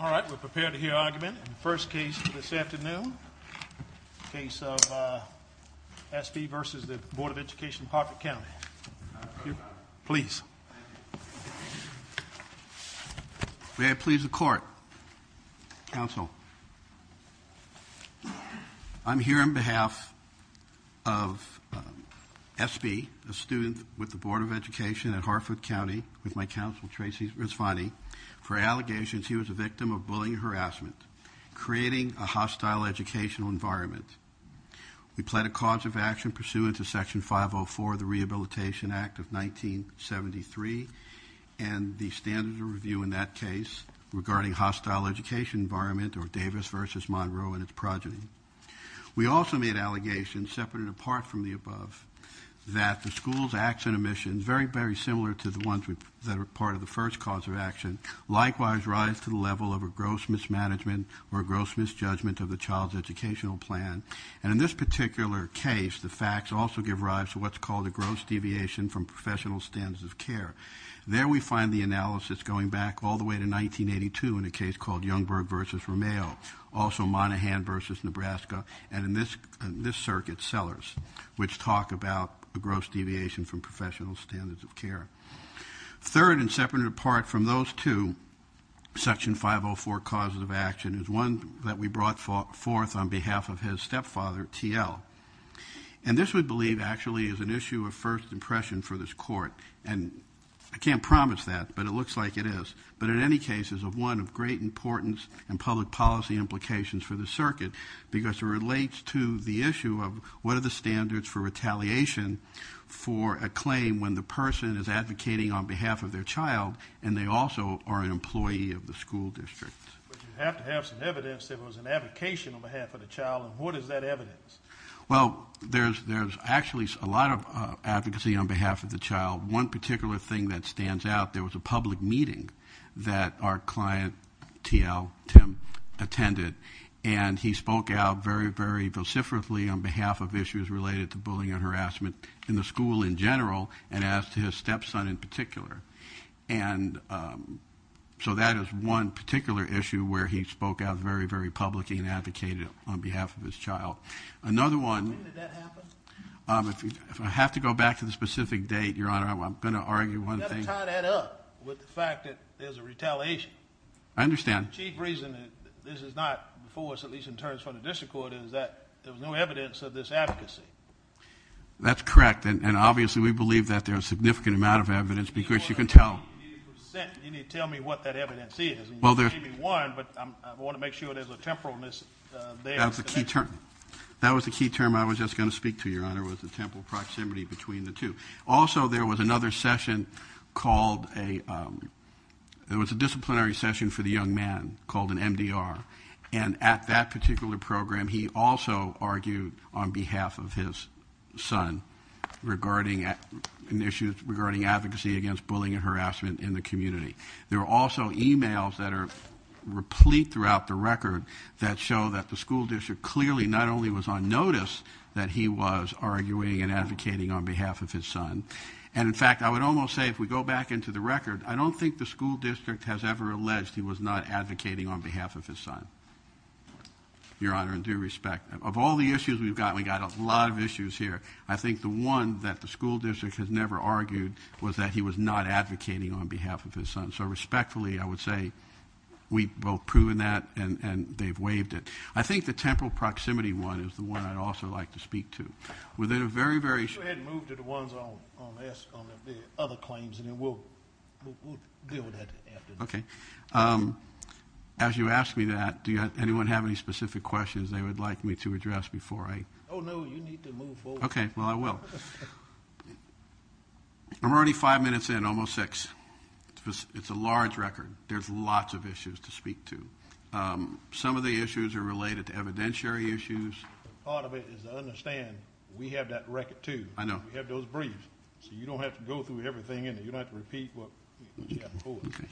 All right, we're prepared to hear argument in the first case this afternoon, the case of SB v. Board of Education of Harford County. Please. May I please the court? Counsel. I'm here on behalf of SB, a student with the Board of Education at Hartford County with my counsel, Tracy Rizvani, for allegations he was a victim of bullying and harassment, creating a hostile educational environment. We pled a cause of action pursuant to Section 504 of the Rehabilitation Act of 1973 and the standards of review in that case regarding hostile education environment or Davis v. Monroe and its progeny. We also made allegations, separate and apart from the above, that the school's acts and omissions, very, very similar to the ones that are part of the first cause of action, likewise rise to the level of a gross mismanagement or a gross misjudgment of the child's educational plan. And in this particular case, the facts also give rise to what's called a gross deviation from professional standards of care. There we find the analysis going back all the way to 1982 in a case called Youngberg v. Romeo, also Monaghan v. Nebraska, and in this circuit, Sellers, which talk about a gross deviation from professional standards of care. Third and separate and apart from those two, Section 504 causes of action is one that we brought forth on behalf of his stepfather, TL. And this, we believe, actually is an issue of first impression for this court. And I can't promise that, but it looks like it is. But in any case, it's one of great importance and public policy implications for this circuit because it relates to the issue of what are the standards for retaliation for a claim when the person is advocating on behalf of their child and they also are an employee of the school district. But you have to have some evidence there was an advocation on behalf of the child, and what is that evidence? Well, there's actually a lot of advocacy on behalf of the child. One particular thing that stands out, there was a public meeting that our client TL, Tim, attended, and he spoke out very, very vociferously on behalf of issues related to bullying and harassment in the school in general and as to his stepson in particular. And so that is one particular issue where he spoke out very, very publicly and advocated on behalf of his child. When did that happen? If I have to go back to the specific date, Your Honor, I'm going to argue one thing. You've got to tie that up with the fact that there's a retaliation. I understand. The chief reason that this is not before us, at least in terms from the district court, is that there was no evidence of this advocacy. That's correct. And obviously we believe that there's a significant amount of evidence because you can tell. You need to tell me what that evidence is. Well, there's one, but I want to make sure there's a temporalness there. That was the key term I was just going to speak to, Your Honor, was the temporal proximity between the two. Also, there was another session called a – it was a disciplinary session for the young man called an MDR. And at that particular program, he also argued on behalf of his son regarding an issue regarding advocacy against bullying and harassment in the community. There were also e-mails that are replete throughout the record that show that the school district clearly not only was on notice that he was arguing and advocating on behalf of his son. And, in fact, I would almost say if we go back into the record, I don't think the school district has ever alleged he was not advocating on behalf of his son, Your Honor, in due respect. Of all the issues we've got, we've got a lot of issues here. I think the one that the school district has never argued was that he was not advocating on behalf of his son. So respectfully, I would say we've both proven that and they've waived it. I think the temporal proximity one is the one I'd also like to speak to. Why don't you go ahead and move to the ones on the other claims, and then we'll deal with that after. Okay. As you ask me that, does anyone have any specific questions they would like me to address before I – Oh, no, you need to move forward. Okay, well, I will. I'm already five minutes in, almost six. It's a large record. There's lots of issues to speak to. Some of the issues are related to evidentiary issues. Part of it is to understand we have that record, too. I know. We have those briefs, so you don't have to go through everything in there. You don't have to repeat what you have before. Okay.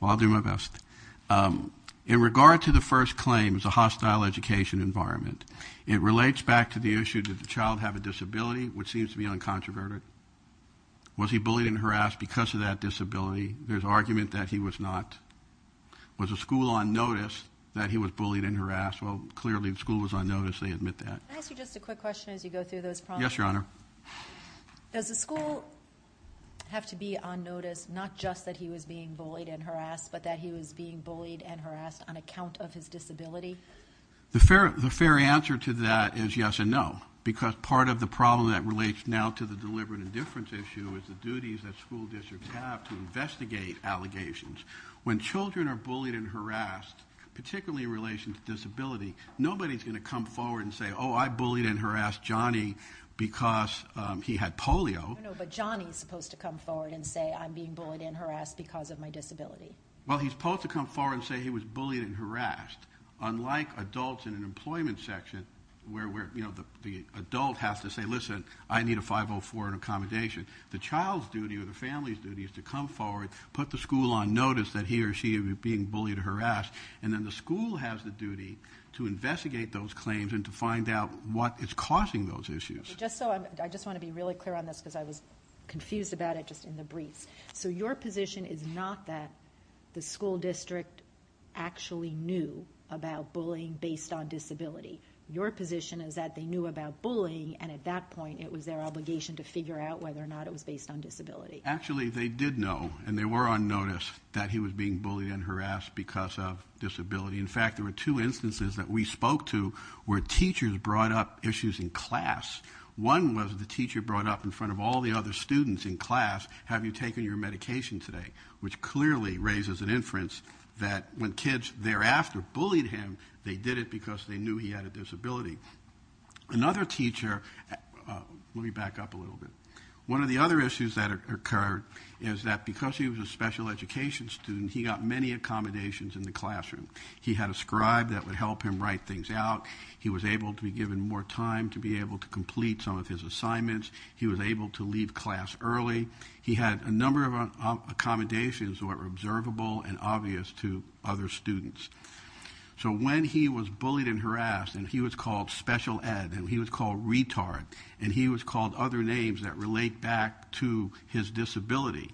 Well, I'll do my best. In regard to the first claim, it was a hostile education environment. It relates back to the issue that the child had a disability, which seems to be uncontroverted. Was he bullied and harassed because of that disability? There's argument that he was not. Was the school on notice that he was bullied and harassed? Well, clearly the school was on notice. They admit that. Can I ask you just a quick question as you go through those problems? Yes, Your Honor. Does the school have to be on notice not just that he was being bullied and harassed but that he was being bullied and harassed on account of his disability? The fair answer to that is yes and no because part of the problem that relates now to the deliberate indifference issue is the duties that school districts have to investigate allegations. When children are bullied and harassed, particularly in relation to disability, nobody's going to come forward and say, Oh, I bullied and harassed Johnny because he had polio. No, but Johnny's supposed to come forward and say, I'm being bullied and harassed because of my disability. Well, he's supposed to come forward and say he was bullied and harassed. Unlike adults in an employment section where the adult has to say, Listen, I need a 504 and accommodation. The child's duty or the family's duty is to come forward, put the school on notice that he or she is being bullied or harassed, and then the school has the duty to investigate those claims and to find out what is causing those issues. I just want to be really clear on this because I was confused about it just in the briefs. So your position is not that the school district actually knew about bullying based on disability. Your position is that they knew about bullying, and at that point it was their obligation to figure out whether or not it was based on disability. Actually, they did know, and they were on notice, that he was being bullied and harassed because of disability. In fact, there were two instances that we spoke to where teachers brought up issues in class. One was the teacher brought up in front of all the other students in class, Have you taken your medication today?, which clearly raises an inference that when kids thereafter bullied him, they did it because they knew he had a disability. Another teacher, let me back up a little bit. One of the other issues that occurred is that because he was a special education student, he got many accommodations in the classroom. He had a scribe that would help him write things out. He was able to be given more time to be able to complete some of his assignments. He was able to leave class early. He had a number of accommodations that were observable and obvious to other students. So when he was bullied and harassed, and he was called special ed, and he was called retard, and he was called other names that relate back to his disability,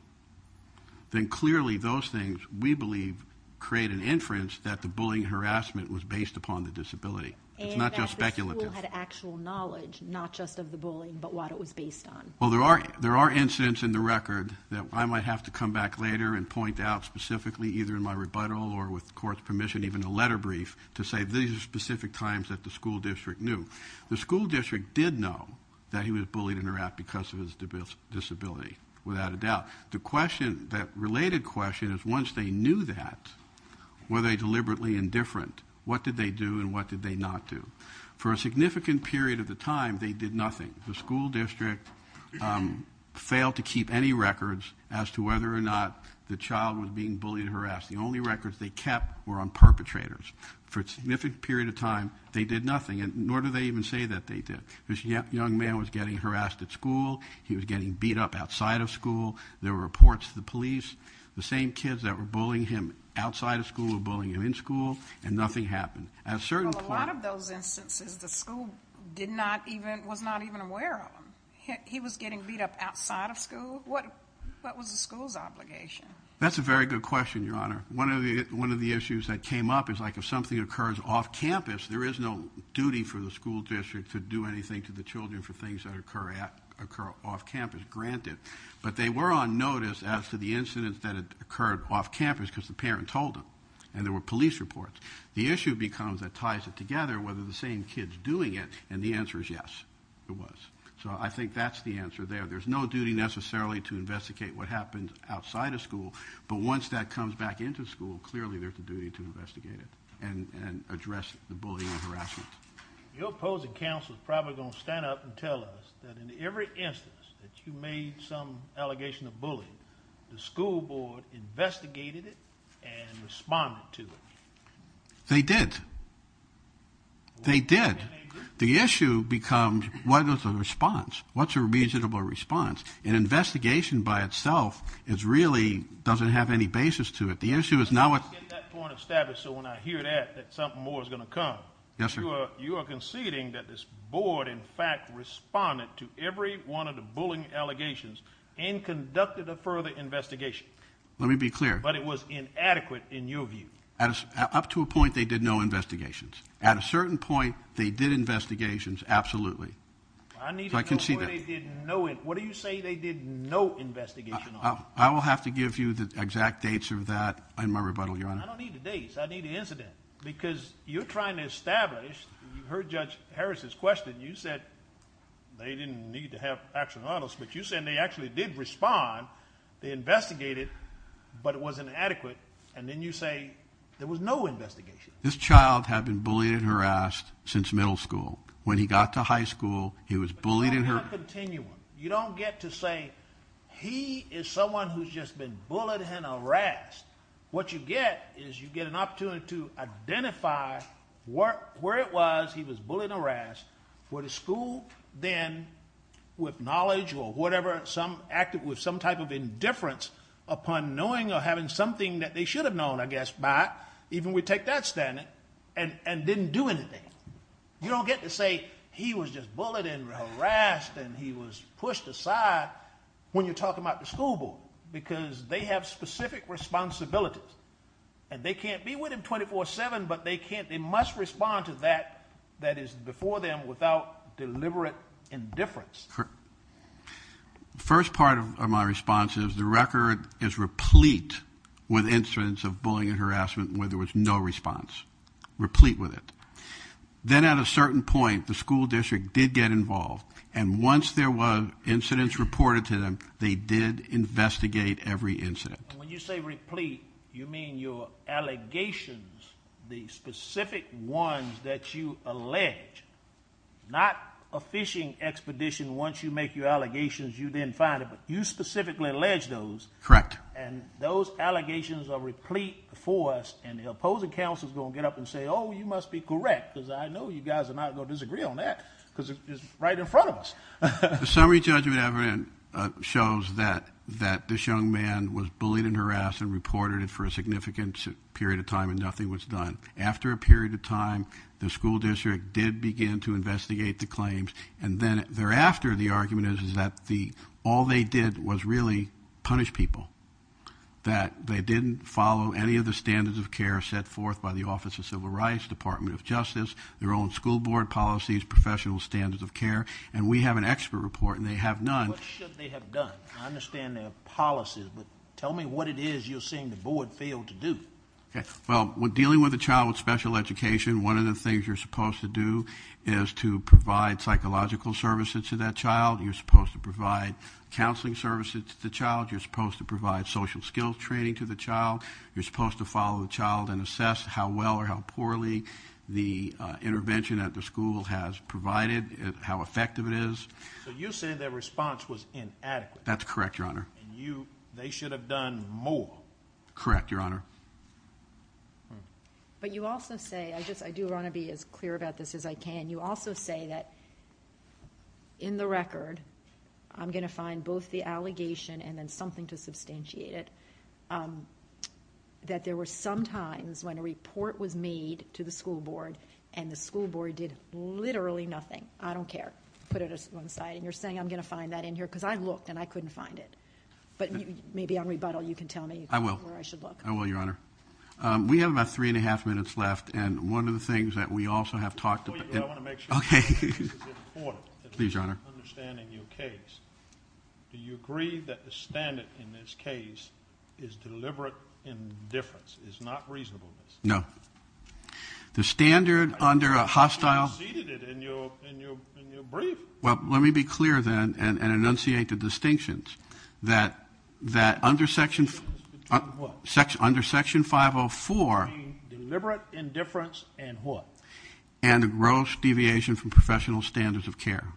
then clearly those things, we believe, create an inference that the bullying and harassment was based upon the disability. It's not just speculative. And that the school had actual knowledge, not just of the bullying, but what it was based on. Well, there are incidents in the record that I might have to come back later and point out specifically either in my rebuttal or with court's permission, even a letter brief, to say these are specific times that the school district knew. The school district did know that he was bullied and harassed because of his disability, without a doubt. The question, that related question, is once they knew that, were they deliberately indifferent? What did they do and what did they not do? For a significant period of the time, they did nothing. The school district failed to keep any records as to whether or not the child was being bullied and harassed. The only records they kept were on perpetrators. For a significant period of time, they did nothing. And nor do they even say that they did. This young man was getting harassed at school. He was getting beat up outside of school. There were reports to the police. The same kids that were bullying him outside of school were bullying him in school. And nothing happened. Well, a lot of those instances, the school did not even, was not even aware of them. He was getting beat up outside of school. What was the school's obligation? That's a very good question, Your Honor. One of the issues that came up is like if something occurs off-campus, there is no duty for the school district to do anything to the children for things that occur off-campus, granted. But they were on notice as to the incidents that had occurred off-campus because the parents told them. And there were police reports. The issue becomes that ties it together whether the same kids doing it, and the answer is yes, it was. So I think that's the answer there. There's no duty necessarily to investigate what happened outside of school. But once that comes back into school, clearly there's a duty to investigate it and address the bullying and harassment. Your opposing counsel is probably going to stand up and tell us that in every instance that you made some allegation of bullying, the school board investigated it and responded to it. They did. They did. The issue becomes what is the response? What's a reasonable response? An investigation by itself is really doesn't have any basis to it. The issue is now what? Let me get that point established so when I hear that, that something more is going to come. Yes, sir. You are conceding that this board in fact responded to every one of the bullying allegations and conducted a further investigation. Let me be clear. But it was inadequate in your view. Up to a point, they did no investigations. At a certain point, they did investigations, absolutely. I need to know where they didn't know it. What do you say they did no investigation on it? I will have to give you the exact dates of that in my rebuttal, Your Honor. I don't need the dates. I need the incident because you're trying to establish. You heard Judge Harris' question. You said they didn't need to have action on us, but you said they actually did respond. They investigated, but it wasn't adequate, and then you say there was no investigation. This child had been bullied and harassed since middle school. When he got to high school, he was bullied and harassed. You don't get to say he is someone who's just been bullied and harassed. What you get is you get an opportunity to identify where it was he was bullied and harassed, where the school then, with knowledge or whatever, acted with some type of indifference upon knowing or having something that they should have known, I guess, by, even we take that standing, and didn't do anything. You don't get to say he was just bullied and harassed and he was pushed aside when you're talking about the school board because they have specific responsibilities, and they can't be with him 24-7, but they can't. They must respond to that that is before them without deliberate indifference. The first part of my response is the record is replete with incidents of bullying and harassment where there was no response, replete with it. Then at a certain point, the school district did get involved, and once there were incidents reported to them, they did investigate every incident. When you say replete, you mean your allegations, the specific ones that you allege, not a phishing expedition once you make your allegations you didn't find it, but you specifically allege those. Correct. And those allegations are replete for us, and the opposing counsel is going to get up and say, oh, you must be correct because I know you guys are not going to disagree on that because it's right in front of us. The summary judgment evidence shows that this young man was bullied and harassed and reported it for a significant period of time and nothing was done. After a period of time, the school district did begin to investigate the claims, and then thereafter the argument is that all they did was really punish people, that they didn't follow any of the standards of care set forth by the Office of Civil Rights, Department of Justice, their own school board policies, professional standards of care, and we have an expert report and they have none. What should they have done? I understand there are policies, but tell me what it is you're seeing the board fail to do. Well, when dealing with a child with special education, one of the things you're supposed to do is to provide psychological services to that child. You're supposed to provide counseling services to the child. You're supposed to provide social skills training to the child. You're supposed to follow the child and assess how well or how poorly the intervention at the school has provided, how effective it is. So you're saying their response was inadequate. That's correct, Your Honor. And they should have done more. Correct, Your Honor. But you also say, I do want to be as clear about this as I can, you also say that in the record I'm going to find both the allegation and then something to substantiate it, that there were some times when a report was made to the school board and the school board did literally nothing. I don't care. Put it aside. And you're saying I'm going to find that in here because I looked and I couldn't find it. But maybe on rebuttal you can tell me where I should look. I will, Your Honor. We have about three and a half minutes left. And one of the things that we also have talked about. Before you go, I want to make sure this is important. Please, Your Honor. Understanding your case. Do you agree that the standard in this case is deliberate indifference, is not reasonableness? No. The standard under a hostile. You conceded it in your brief. Well, let me be clear then and enunciate the distinctions that under Section 504. Deliberate indifference and what? And a gross deviation from professional standards of care.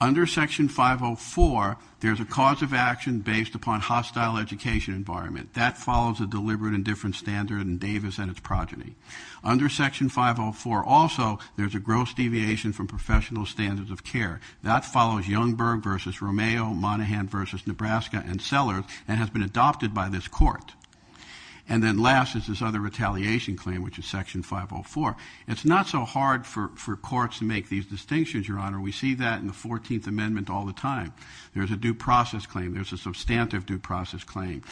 Under Section 504, there's a cause of action based upon hostile education environment. That follows a deliberate indifference standard in Davis and its progeny. Under Section 504, also, there's a gross deviation from professional standards of care. That follows Youngberg v. Romeo, Monaghan v. Nebraska and Sellers and has been adopted by this court. And then last is this other retaliation claim, which is Section 504. It's not so hard for courts to make these distinctions, Your Honor. We see that in the 14th Amendment all the time. There's a due process claim. There's a substantive due process claim.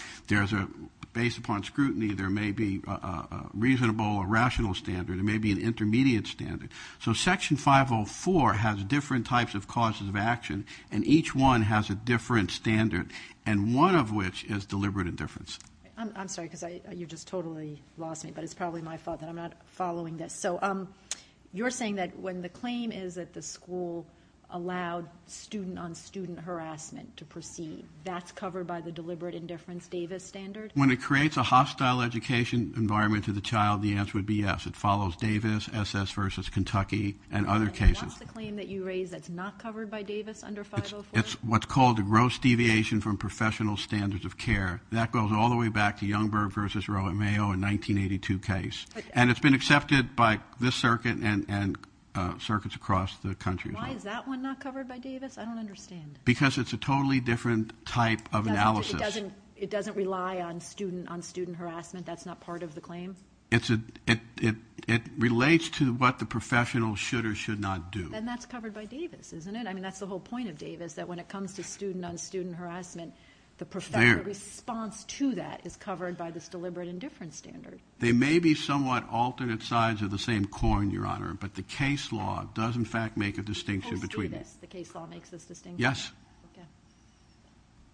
Based upon scrutiny, there may be a reasonable or rational standard. There may be an intermediate standard. So Section 504 has different types of causes of action, and each one has a different standard, and one of which is deliberate indifference. I'm sorry because you just totally lost me, but it's probably my fault that I'm not following this. So you're saying that when the claim is that the school allowed student-on-student harassment to proceed, that's covered by the deliberate indifference Davis standard? When it creates a hostile education environment to the child, the answer would be yes. It follows Davis, S.S. v. Kentucky, and other cases. And what's the claim that you raised that's not covered by Davis under 504? It's what's called a gross deviation from professional standards of care. That goes all the way back to Youngberg v. Romeo in 1982 case. And it's been accepted by this circuit and circuits across the country. Why is that one not covered by Davis? I don't understand. Because it's a totally different type of analysis. It doesn't rely on student-on-student harassment? That's not part of the claim? It relates to what the professional should or should not do. Then that's covered by Davis, isn't it? I mean, that's the whole point of Davis, that when it comes to student-on-student harassment, the response to that is covered by this deliberate indifference standard. They may be somewhat alternate sides of the same coin, Your Honor, but the case law does, in fact, make a distinction between them. Yes, the case law makes a distinction. Yes. Okay.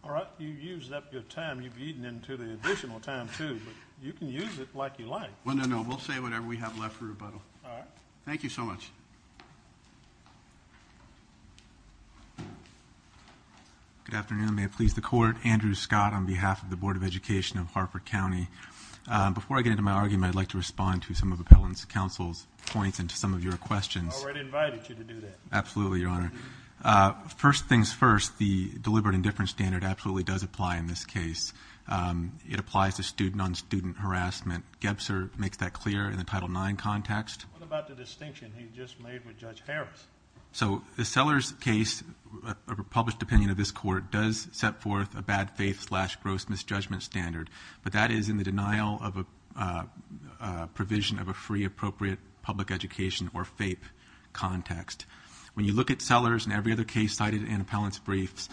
All right. You've used up your time. You've eaten into the additional time, too. But you can use it like you like. Well, no, no. We'll say whatever we have left for rebuttal. All right. Thank you so much. Good afternoon. May it please the Court. Andrew Scott on behalf of the Board of Education of Harper County. Before I get into my argument, I'd like to respond to some of Appellant Counsel's points and to some of your questions. I already invited you to do that. Absolutely, Your Honor. First things first, the deliberate indifference standard absolutely does apply in this case. It applies to student-on-student harassment. Gebzer makes that clear in the Title IX context. What about the distinction he just made with Judge Harris? So the Sellers case, a published opinion of this Court, does set forth a bad faith-slash-gross misjudgment standard, but that is in the denial of a provision of a free, appropriate public education, or FAPE, context. When you look at Sellers and every other case cited in Appellant's briefs,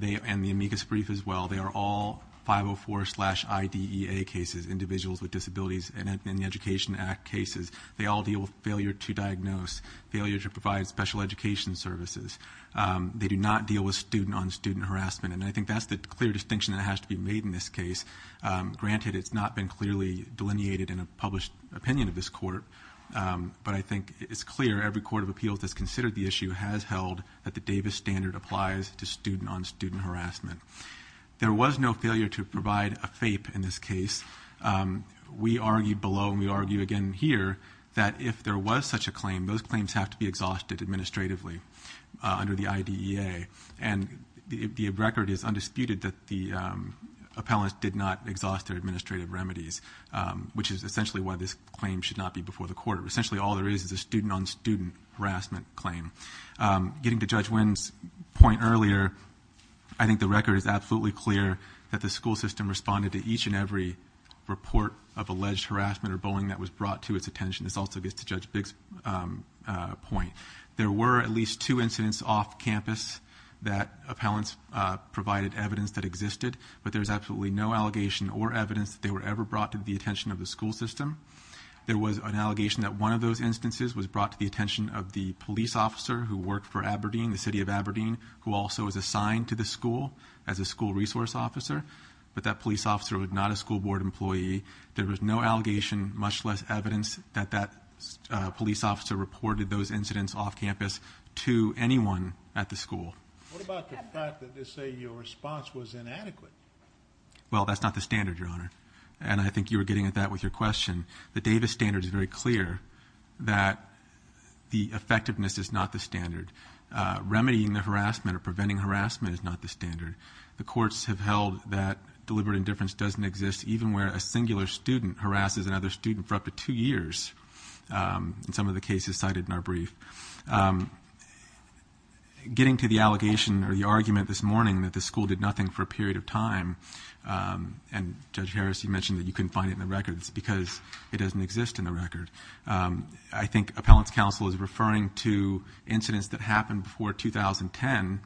and the amicus brief as well, they are all 504-slash-IDEA cases, individuals with disabilities in the Education Act cases. They all deal with failure to diagnose, failure to provide special education services. They do not deal with student-on-student harassment. And I think that's the clear distinction that has to be made in this case. Granted, it's not been clearly delineated in a published opinion of this Court, but I think it's clear every court of appeals that's considered the issue has held that the Davis standard applies to student-on-student harassment. There was no failure to provide a FAPE in this case. We argued below, and we argue again here, that if there was such a claim, those claims have to be exhausted administratively under the IDEA. And the record is undisputed that the appellants did not exhaust their administrative remedies, which is essentially why this claim should not be before the Court. Essentially, all there is is a student-on-student harassment claim. Getting to Judge Wynn's point earlier, I think the record is absolutely clear that the school system responded to each and every report of alleged harassment or bullying that was brought to its attention. This also gets to Judge Biggs' point. There were at least two incidents off campus that appellants provided evidence that existed, but there's absolutely no allegation or evidence that they were ever brought to the attention of the school system. There was an allegation that one of those instances was brought to the attention of the police officer who worked for Aberdeen, the city of Aberdeen, who also was assigned to the school as a school resource officer, but that police officer was not a school board employee. There was no allegation, much less evidence, that that police officer reported those incidents off campus to anyone at the school. What about the fact that they say your response was inadequate? Well, that's not the standard, Your Honor. And I think you were getting at that with your question. The Davis standard is very clear that the effectiveness is not the standard. Remedying the harassment or preventing harassment is not the standard. The courts have held that deliberate indifference doesn't exist, even where a singular student harasses another student for up to two years in some of the cases cited in our brief. Getting to the allegation or the argument this morning that the school did nothing for a period of time, and Judge Harris, you mentioned that you couldn't find it in the records, because it doesn't exist in the record. I think appellants' counsel is referring to incidents that happened before 2010.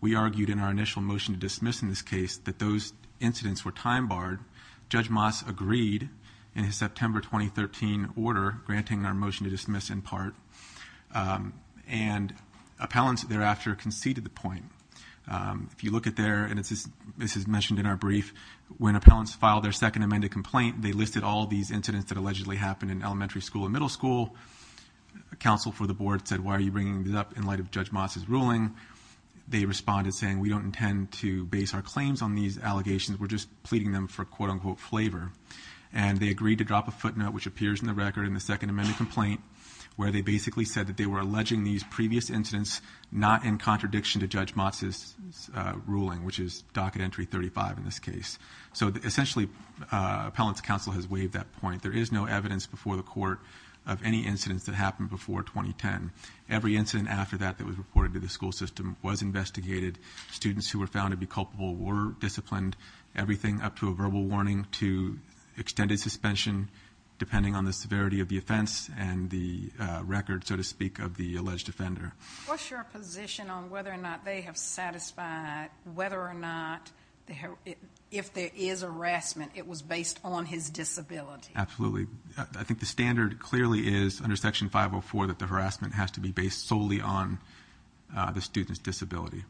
We argued in our initial motion to dismiss in this case that those incidents were time-barred. Judge Moss agreed in his September 2013 order, granting our motion to dismiss in part, and appellants thereafter conceded the point. If you look at there, and this is mentioned in our brief, when appellants filed their second amended complaint, they listed all these incidents that allegedly happened in elementary school and middle school. Counsel for the board said, why are you bringing this up in light of Judge Moss's ruling? They responded saying, we don't intend to base our claims on these allegations. We're just pleading them for quote-unquote flavor. And they agreed to drop a footnote, which appears in the record in the second amended complaint, where they basically said that they were alleging these previous incidents not in contradiction to Judge Moss's ruling, which is docket entry 35 in this case. So essentially, appellants' counsel has waived that point. There is no evidence before the court of any incidents that happened before 2010. Every incident after that that was reported to the school system was investigated. Students who were found to be culpable were disciplined. Everything up to a verbal warning to extended suspension, depending on the severity of the offense and the record, so to speak, of the alleged offender. What's your position on whether or not they have satisfied whether or not, if there is harassment, it was based on his disability? Absolutely. I think the standard clearly is under Section 504 that the harassment has to be based solely on the student's disability.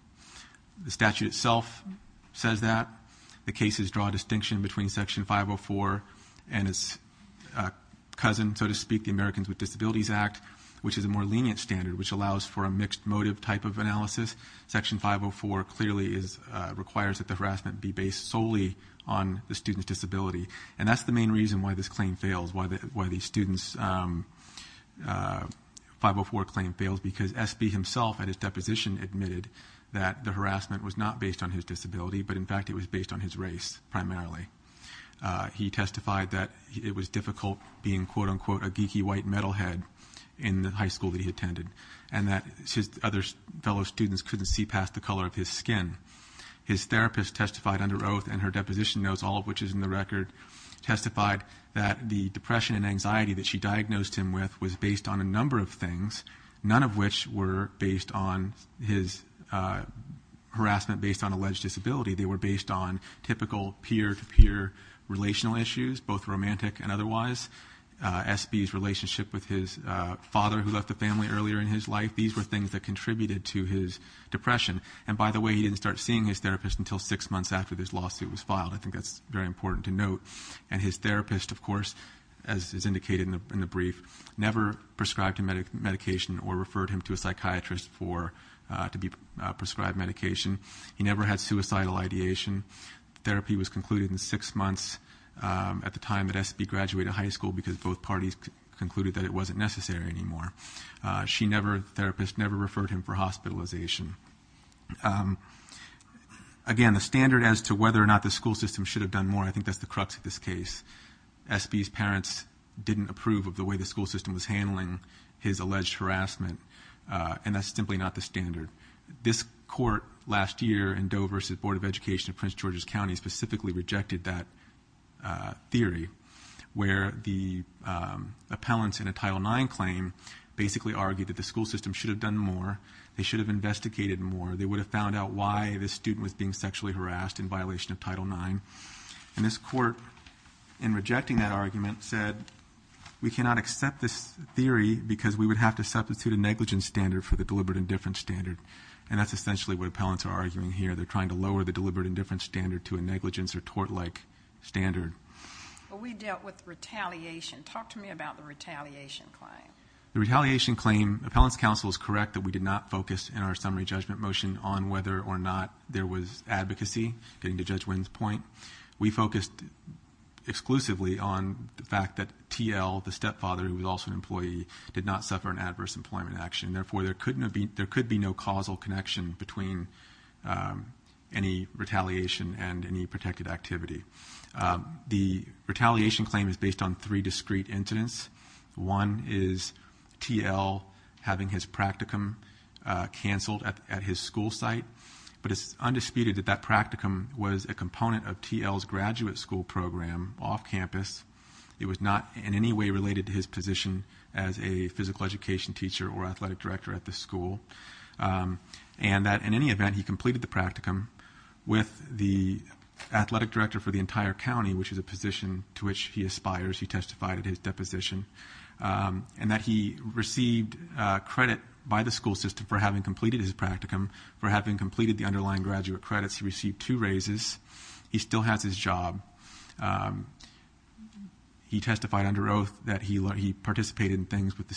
The statute itself says that. The cases draw a distinction between Section 504 and its cousin, so to speak, the Americans with Disabilities Act, which is a more lenient standard, which allows for a mixed motive type of analysis. Section 504 clearly requires that the harassment be based solely on the student's disability. And that's the main reason why this claim fails, why the student's 504 claim fails, because SB himself at his deposition admitted that the harassment was not based on his disability, but in fact it was based on his race primarily. He testified that it was difficult being, quote, unquote, a geeky white metalhead in the high school that he attended and that his other fellow students couldn't see past the color of his skin. His therapist testified under oath, and her deposition notes, all of which is in the record, testified that the depression and anxiety that she diagnosed him with was based on a number of things, none of which were based on his harassment based on alleged disability. They were based on typical peer-to-peer relational issues, both romantic and otherwise. SB's relationship with his father, who left the family earlier in his life, these were things that contributed to his depression. And by the way, he didn't start seeing his therapist until six months after this lawsuit was filed. I think that's very important to note. And his therapist, of course, as is indicated in the brief, never prescribed him medication or referred him to a psychiatrist to be prescribed medication. He never had suicidal ideation. Therapy was concluded in six months at the time that SB graduated high school because both parties concluded that it wasn't necessary anymore. She never, the therapist never referred him for hospitalization. Again, the standard as to whether or not the school system should have done more, I think that's the crux of this case. SB's parents didn't approve of the way the school system was handling his alleged harassment, and that's simply not the standard. This court last year in Dover's Board of Education of Prince George's County specifically rejected that theory where the appellants in a Title IX claim basically argued that the school system should have done more, they should have investigated more, they would have found out why this student was being sexually harassed in violation of Title IX. And this court, in rejecting that argument, said, we cannot accept this theory because we would have to substitute a negligence standard for the deliberate indifference standard. And that's essentially what appellants are arguing here. They're trying to lower the deliberate indifference standard to a negligence or tort-like standard. Well, we dealt with retaliation. Talk to me about the retaliation claim. The retaliation claim, appellants' counsel is correct that we did not focus in our summary judgment motion on whether or not there was advocacy, getting to Judge Winn's point. We focused exclusively on the fact that TL, the stepfather who was also an employee, did not suffer an adverse employment action. Therefore, there could be no causal connection between any retaliation and any protected activity. The retaliation claim is based on three discrete incidents. One is TL having his practicum canceled at his school site. But it's undisputed that that practicum was a component of TL's graduate school program off campus. It was not in any way related to his position as a physical education teacher or athletic director at the school. And that in any event, he completed the practicum with the athletic director for the entire county, which is a position to which he aspires. He testified at his deposition. And that he received credit by the school system for having completed his practicum, for having completed the underlying graduate credits. He received two raises. He still has his job. He testified under oath that he participated in things with the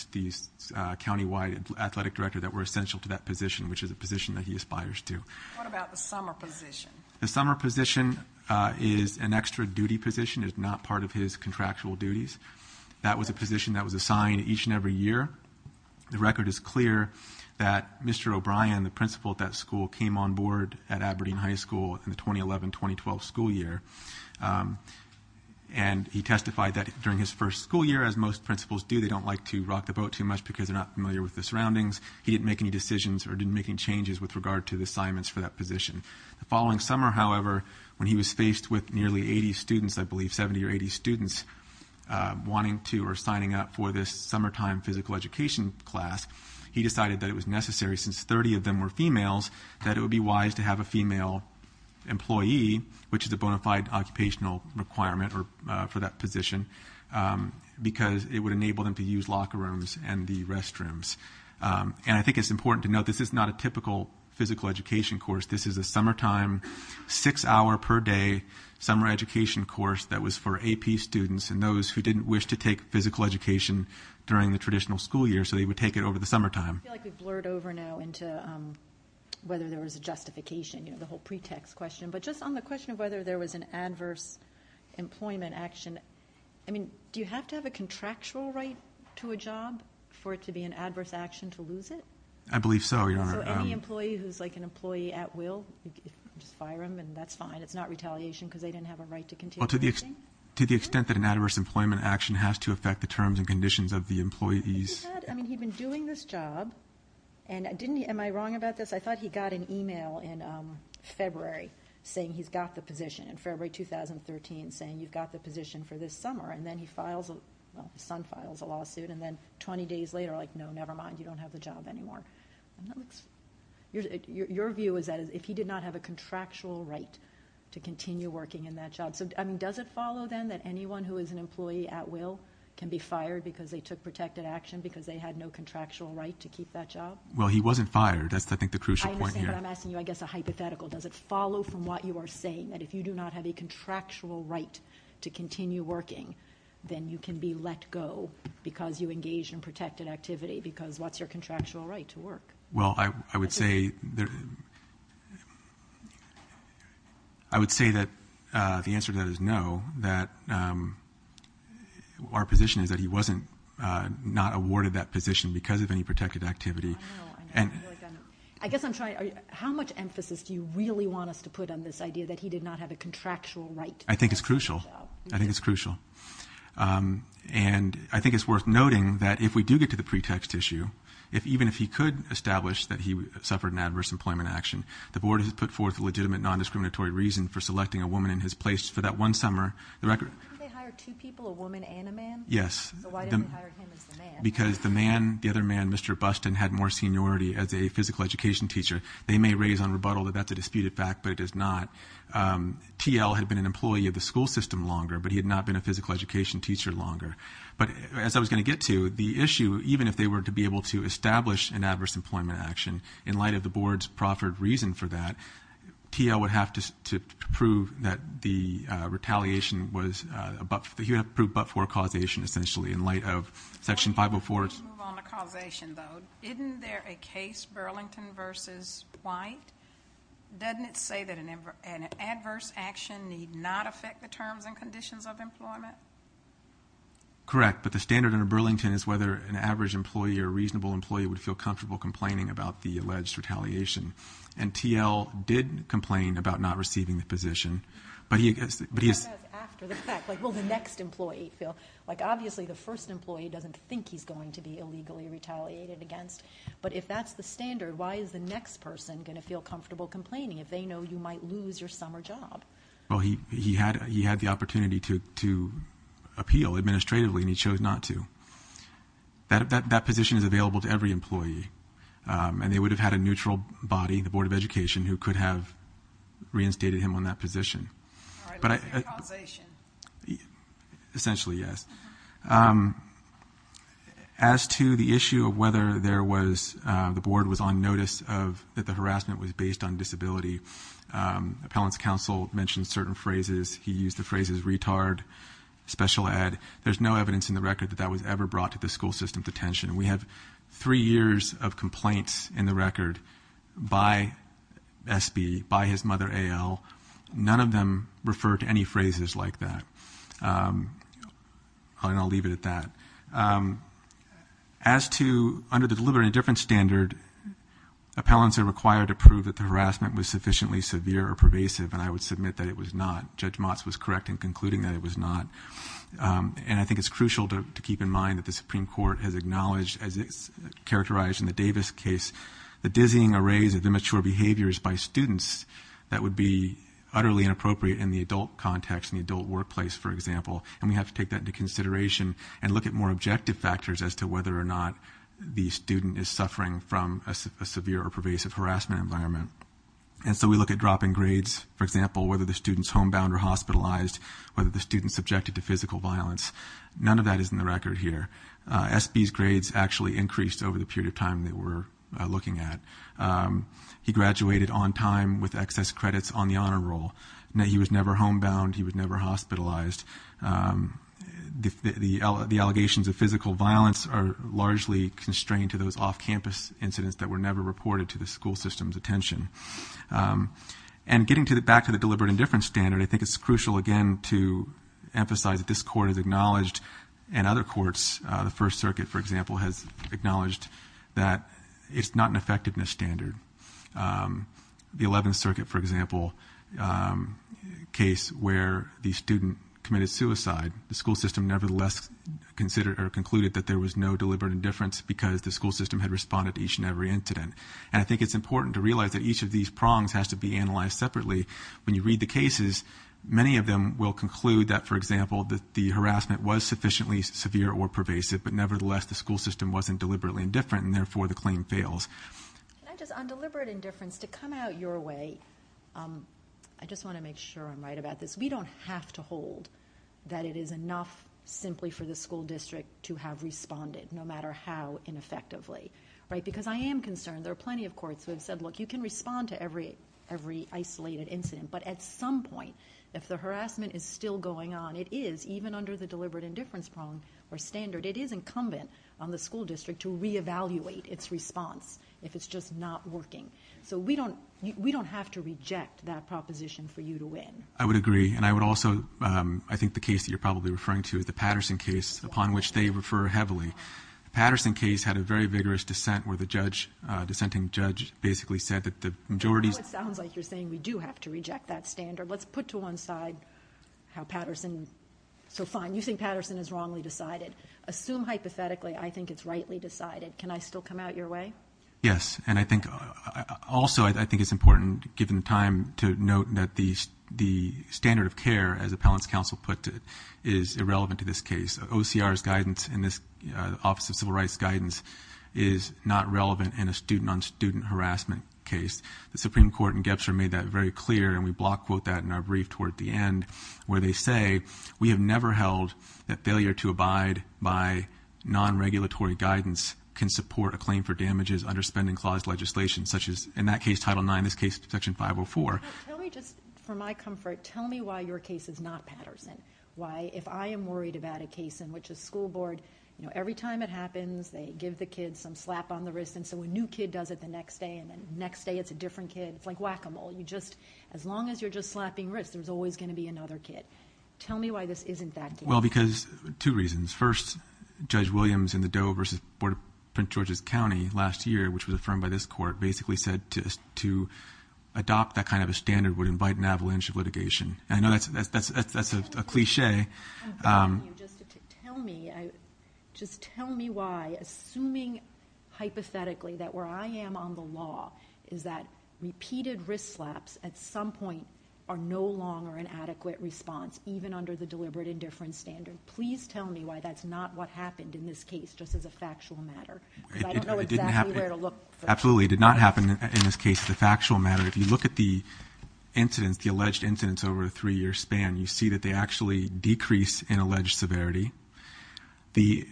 countywide athletic director that were essential to that position, which is a position that he aspires to. What about the summer position? The summer position is an extra duty position. It's not part of his contractual duties. That was a position that was assigned each and every year. The record is clear that Mr. O'Brien, the principal at that school, came on board at Aberdeen High School in the 2011-2012 school year. And he testified that during his first school year, as most principals do, they don't like to rock the boat too much because they're not familiar with the surroundings. He didn't make any decisions or didn't make any changes with regard to the assignments for that position. The following summer, however, when he was faced with nearly 80 students, I believe 70 or 80 students, wanting to or signing up for this summertime physical education class, he decided that it was necessary, since 30 of them were females, that it would be wise to have a female employee, which is a bona fide occupational requirement for that position, because it would enable them to use locker rooms and the restrooms. And I think it's important to note this is not a typical physical education course. This is a summertime, six-hour-per-day summer education course that was for AP students and those who didn't wish to take physical education during the traditional school year, so they would take it over the summertime. I feel like we've blurred over now into whether there was a justification, you know, the whole pretext question. But just on the question of whether there was an adverse employment action, I mean, do you have to have a contractual right to a job for it to be an adverse action to lose it? I believe so, Your Honor. So any employee who's, like, an employee at will, just fire them, and that's fine. It's not retaliation because they didn't have a right to continue working? Well, to the extent that an adverse employment action has to affect the terms and conditions of the employees. I mean, he'd been doing this job, and didn't he? Am I wrong about this? I thought he got an e-mail in February saying he's got the position, in February 2013 saying you've got the position for this summer. And then he files a lawsuit, and then 20 days later, like, no, never mind, you don't have the job anymore. Your view is that if he did not have a contractual right to continue working in that job. So, I mean, does it follow, then, that anyone who is an employee at will can be fired because they took protected action, because they had no contractual right to keep that job? Well, he wasn't fired. That's, I think, the crucial point here. I understand, but I'm asking you, I guess, a hypothetical. Does it follow from what you are saying that if you do not have a contractual right to continue working, then you can be let go because you engaged in protected activity? Because what's your contractual right to work? Well, I would say that the answer to that is no, that our position is that he wasn't not awarded that position because of any protected activity. I know, I know. I guess I'm trying, how much emphasis do you really want us to put on this idea that he did not have a contractual right? I think it's crucial. I think it's crucial. And I think it's worth noting that if we do get to the pretext issue, even if he could establish that he suffered an adverse employment action, the board has put forth a legitimate non-discriminatory reason for selecting a woman in his place for that one summer. Didn't they hire two people, a woman and a man? Yes. So why didn't they hire him as the man? Because the man, the other man, Mr. Buston, had more seniority as a physical education teacher. They may raise on rebuttal that that's a disputed fact, but it is not. T.L. had been an employee of the school system longer, but he had not been a physical education teacher longer. But as I was going to get to, the issue, even if they were to be able to establish an adverse employment action, in light of the board's proffered reason for that, T.L. would have to prove that the retaliation was, he would have to prove but-for causation, essentially, in light of Section 504. Before we move on to causation, though, isn't there a case Burlington v. White? Doesn't it say that an adverse action need not affect the terms and conditions of employment? Correct, but the standard under Burlington is whether an average employee or a reasonable employee would feel comfortable complaining about the alleged retaliation. And T.L. did complain about not receiving the position, but he- That's after the fact. Like, will the next employee feel? Like, obviously, the first employee doesn't think he's going to be illegally retaliated against, but if that's the standard, why is the next person going to feel comfortable complaining if they know you might lose your summer job? Well, he had the opportunity to appeal administratively, and he chose not to. That position is available to every employee, and they would have had a neutral body, the Board of Education, who could have reinstated him on that position. All right, let's do causation. Essentially, yes. As to the issue of whether the board was on notice that the harassment was based on disability, appellant's counsel mentioned certain phrases. He used the phrases retard, special ed. There's no evidence in the record that that was ever brought to the school system's attention. We have three years of complaints in the record by SB, by his mother, AL. None of them refer to any phrases like that. And I'll leave it at that. As to under the deliberate indifference standard, appellants are required to prove that the harassment was sufficiently severe or pervasive, and I would submit that it was not. Judge Motz was correct in concluding that it was not. And I think it's crucial to keep in mind that the Supreme Court has acknowledged, as it's characterized in the Davis case, the dizzying arrays of immature behaviors by students that would be utterly inappropriate in the adult context, in the adult workplace, for example. And we have to take that into consideration and look at more objective factors as to whether or not the student is suffering from a severe or pervasive harassment environment. And so we look at dropping grades, for example, whether the student's homebound or hospitalized, whether the student's subjected to physical violence. None of that is in the record here. SB's grades actually increased over the period of time that we're looking at. He graduated on time with excess credits on the honor roll. He was never homebound. He was never hospitalized. The allegations of physical violence are largely constrained to those off-campus incidents that were never reported to the school system's attention. And getting back to the deliberate indifference standard, I think it's crucial, again, to emphasize that this Court has acknowledged, and other courts, the First Circuit, for example, has acknowledged that it's not an effectiveness standard. The Eleventh Circuit, for example, case where the student committed suicide, the school system nevertheless considered or concluded that there was no deliberate indifference because the school system had responded to each and every incident. And I think it's important to realize that each of these prongs has to be analyzed separately. When you read the cases, many of them will conclude that, for example, the harassment was sufficiently severe or pervasive, but nevertheless the school system wasn't deliberately indifferent, and therefore the claim fails. Can I just, on deliberate indifference, to come out your way, I just want to make sure I'm right about this. We don't have to hold that it is enough simply for the school district to have responded, no matter how ineffectively. Because I am concerned. There are plenty of courts who have said, look, you can respond to every isolated incident, but at some point, if the harassment is still going on, it is, even under the deliberate indifference prong or standard, it is incumbent on the school district to re-evaluate its response if it's just not working. So we don't have to reject that proposition for you to win. I would agree. And I would also, I think the case that you're probably referring to is the Patterson case, upon which they refer heavily. The Patterson case had a very vigorous dissent where the dissenting judge basically said that the majority... Let's put to one side how Patterson... So fine, you think Patterson is wrongly decided. Assume hypothetically I think it's rightly decided. Can I still come out your way? Yes. And I think, also, I think it's important, given the time, to note that the standard of care, as Appellant's counsel put it, is irrelevant to this case. OCR's guidance in this Office of Civil Rights guidance is not relevant in a student-on-student harassment case. The Supreme Court in Gebser made that very clear, and we block quote that in our brief toward the end, where they say we have never held that failure to abide by non-regulatory guidance can support a claim for damages under spending clause legislation, such as, in that case, Title IX, in this case, Section 504. Tell me just, for my comfort, tell me why your case is not Patterson. Why, if I am worried about a case in which a school board, every time it happens, they give the kids some slap on the wrist, and so a new kid does it the next day, and the next day it's a different kid. It's like whack-a-mole. You just, as long as you're just slapping wrists, there's always going to be another kid. Tell me why this isn't that case. Well, because two reasons. First, Judge Williams in the Doe v. Board of Prince George's County last year, which was affirmed by this court, basically said to adopt that kind of a standard would invite an avalanche of litigation. And I know that's a cliché. Tell me, just tell me why, assuming hypothetically that where I am on the law is that repeated wrist slaps at some point are no longer an adequate response, even under the deliberate indifference standard. Please tell me why that's not what happened in this case, just as a factual matter. Because I don't know exactly where to look. Absolutely, it did not happen in this case as a factual matter. If you look at the incidents, the alleged incidents over a three-year span, you see that they actually decrease in alleged severity. The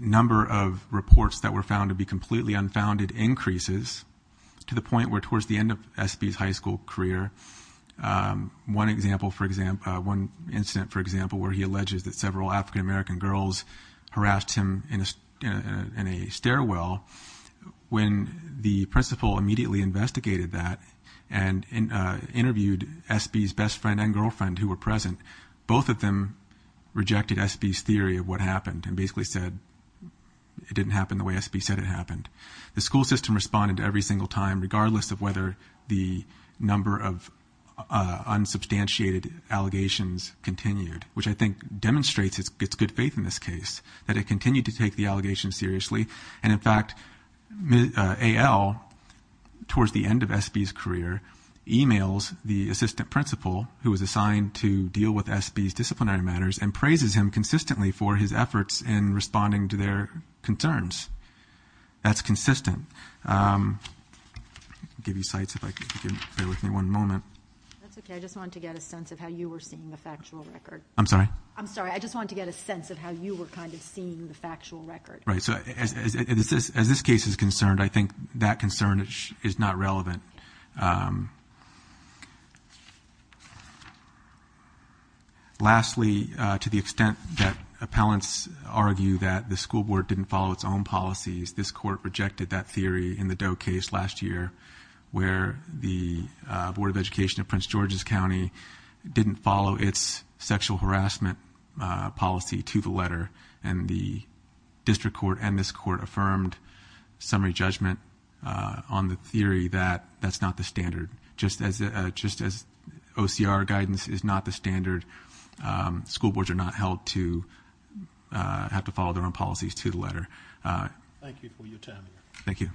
number of reports that were found to be completely unfounded increases to the point where, towards the end of Espy's high school career, one incident, for example, where he alleges that several African-American girls harassed him in a stairwell, when the principal immediately investigated that and interviewed Espy's best friend and girlfriend who were present, both of them rejected Espy's theory of what happened and basically said it didn't happen the way Espy said it happened. The school system responded every single time, regardless of whether the number of unsubstantiated allegations continued, which I think demonstrates its good faith in this case, that it continued to take the allegations seriously. And, in fact, AL, towards the end of Espy's career, emails the assistant principal who was assigned to deal with Espy's disciplinary matters and praises him consistently for his efforts in responding to their concerns. That's consistent. I'll give you sites if I can bear with me one moment. That's okay. I just wanted to get a sense of how you were seeing the factual record. I'm sorry? I'm sorry. I just wanted to get a sense of how you were kind of seeing the factual record. Right, so as this case is concerned, I think that concern is not relevant. Lastly, to the extent that appellants argue that the school board didn't follow its own policies, this court rejected that theory in the Doe case last year where the Board of Education of Prince George's County didn't follow its sexual harassment policy to the letter and the district court and this court affirmed summary judgment on the theory that that's not the standard. Just as OCR guidance is not the standard, school boards are not held to have to follow their own policies to the letter. Thank you for your time. Thank you.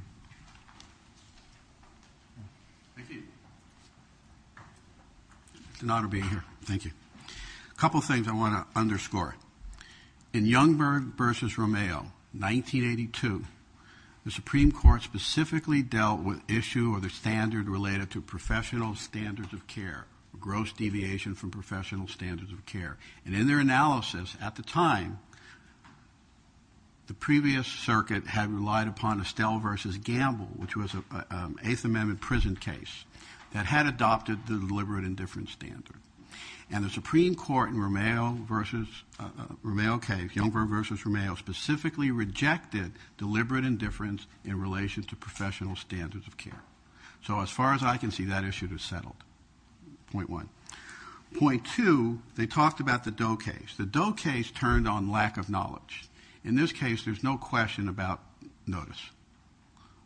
Thank you. It's an honor being here. Thank you. A couple of things I want to underscore. In Youngberg v. Romeo, 1982, the Supreme Court specifically dealt with issue of the standard related to professional standards of care, gross deviation from professional standards of care, and in their analysis at the time, the previous circuit had relied upon Estelle v. Gamble, which was an Eighth Amendment prison case, that had adopted the deliberate indifference standard, and the Supreme Court in Romeo case, Youngberg v. Romeo, specifically rejected deliberate indifference in relation to professional standards of care. So as far as I can see, that issue is settled, point one. Point two, they talked about the Doe case. The Doe case turned on lack of knowledge. In this case, there's no question about notice.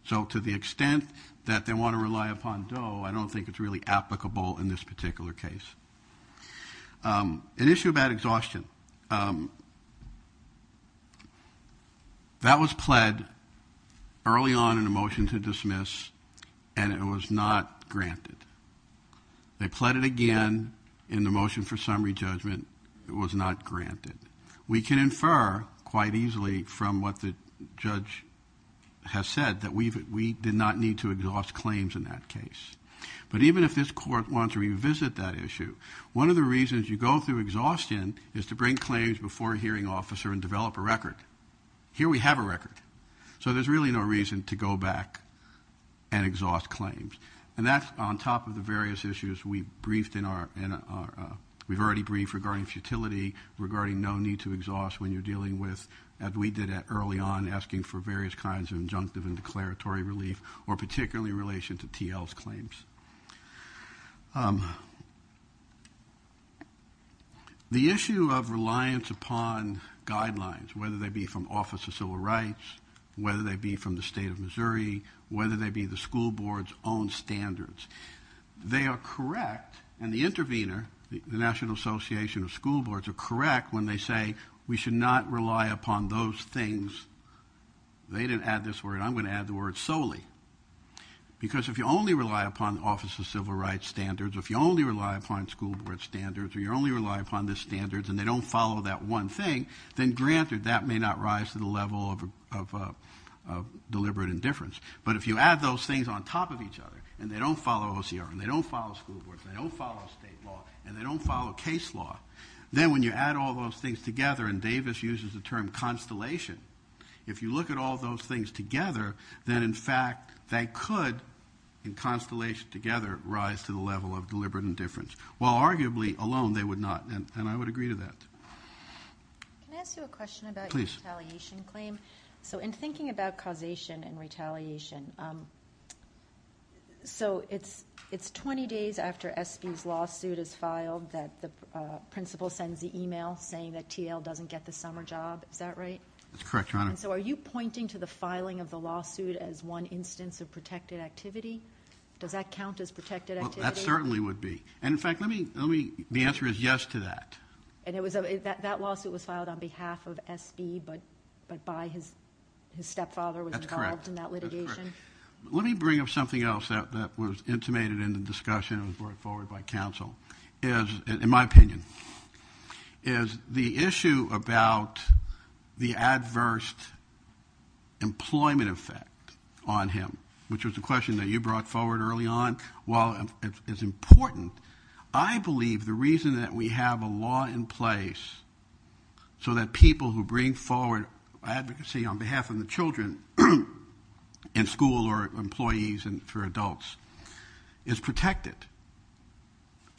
So to the extent that they want to rely upon Doe, I don't think it's really applicable in this particular case. An issue about exhaustion. That was pled early on in the motion to dismiss, and it was not granted. They pled it again in the motion for summary judgment. It was not granted. We can infer quite easily from what the judge has said that we did not need to exhaust claims in that case. But even if this Court wants to revisit that issue, one of the reasons you go through exhaustion is to bring claims before a hearing officer and develop a record. Here we have a record. So there's really no reason to go back and exhaust claims. And that's on top of the various issues we've already briefed regarding futility, regarding no need to exhaust when you're dealing with, as we did early on, asking for various kinds of injunctive and declaratory relief, or particularly in relation to TL's claims. The issue of reliance upon guidelines, whether they be from Office of Civil Rights, whether they be from the State of Missouri, whether they be the school board's own standards. They are correct, and the intervener, the National Association of School Boards, are correct when they say we should not rely upon those things. They didn't add this word. I'm going to add the word solely. Because if you only rely upon Office of Civil Rights standards, if you only rely upon school board standards, or you only rely upon the standards and they don't follow that one thing, then granted that may not rise to the level of deliberate indifference. But if you add those things on top of each other, and they don't follow OCR, and they don't follow school boards, and they don't follow state law, and they don't follow case law, then when you add all those things together, and Davis uses the term constellation, if you look at all those things together, then in fact they could, in constellation together, rise to the level of deliberate indifference. While arguably alone they would not, and I would agree to that. Can I ask you a question about your retaliation claim? Please. So in thinking about causation and retaliation, so it's 20 days after S.B.'s lawsuit is filed that the principal sends the email saying that T.L. doesn't get the summer job. Is that right? That's correct, Your Honor. And so are you pointing to the filing of the lawsuit as one instance of protected activity? Does that count as protected activity? That certainly would be. And in fact, the answer is yes to that. And that lawsuit was filed on behalf of S.B., but by his stepfather was involved in that litigation? That's correct. Let me bring up something else that was intimated in the discussion and was brought forward by counsel, in my opinion, is the issue about the adverse employment effect on him, which was the question that you brought forward early on. While it's important, I believe the reason that we have a law in place so that people who bring forward advocacy on behalf of the children in school or employees for adults is protected.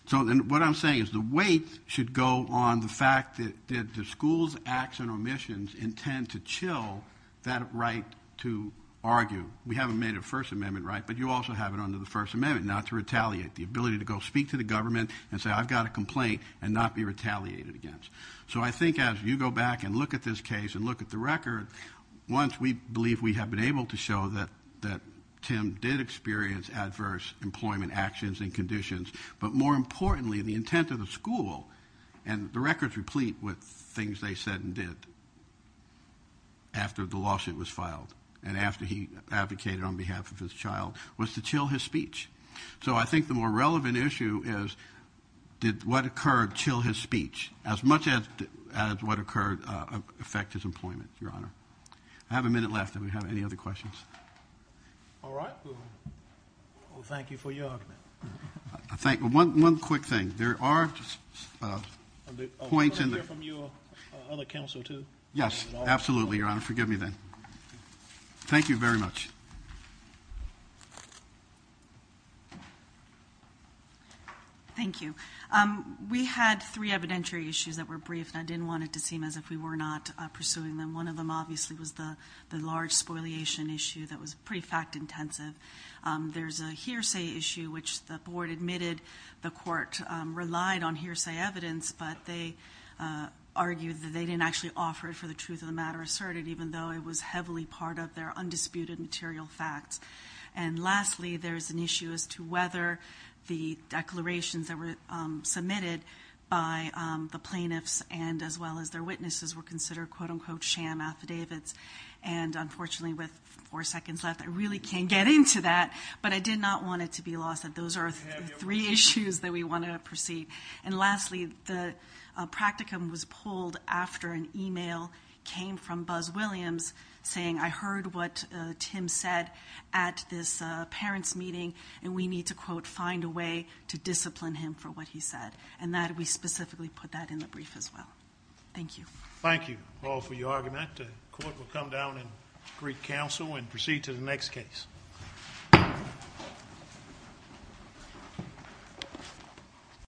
So what I'm saying is the weight should go on the fact that the school's acts and omissions intend to chill that right to argue. We haven't made a First Amendment right, but you also have it under the First Amendment not to retaliate, the ability to go speak to the government and say, I've got a complaint, and not be retaliated against. So I think as you go back and look at this case and look at the record, once we believe we have been able to show that Tim did experience adverse employment actions and conditions, but more importantly the intent of the school, and the record's replete with things they said and did after the lawsuit was filed and after he advocated on behalf of his child, was to chill his speech. So I think the more relevant issue is did what occurred chill his speech as much as what occurred affect his employment, Your Honor? I have a minute left. Do we have any other questions? All right. Well, thank you for your argument. One quick thing. There are points in the – Can I hear from your other counsel too? Yes, absolutely, Your Honor. Forgive me then. Thank you very much. Thank you. We had three evidentiary issues that were brief, and I didn't want it to seem as if we were not pursuing them. One of them obviously was the large spoliation issue that was pretty fact-intensive. There's a hearsay issue, which the board admitted the court relied on hearsay evidence, but they argued that they didn't actually offer it for the truth of the matter asserted, even though it was heavily part of their undisputed material facts. And lastly, there's an issue as to whether the declarations that were submitted by the plaintiffs and as well as their witnesses were considered, quote-unquote, sham affidavits. And unfortunately, with four seconds left, I really can't get into that, but I did not want it to be lost that those are three issues that we want to proceed. And lastly, the practicum was pulled after an e-mail came from Buzz Williams saying, I heard what Tim said at this parents' meeting, and we need to, quote, find a way to discipline him for what he said. And we specifically put that in the brief as well. Thank you. Thank you all for your argument. The court will come down and greet counsel and proceed to the next case.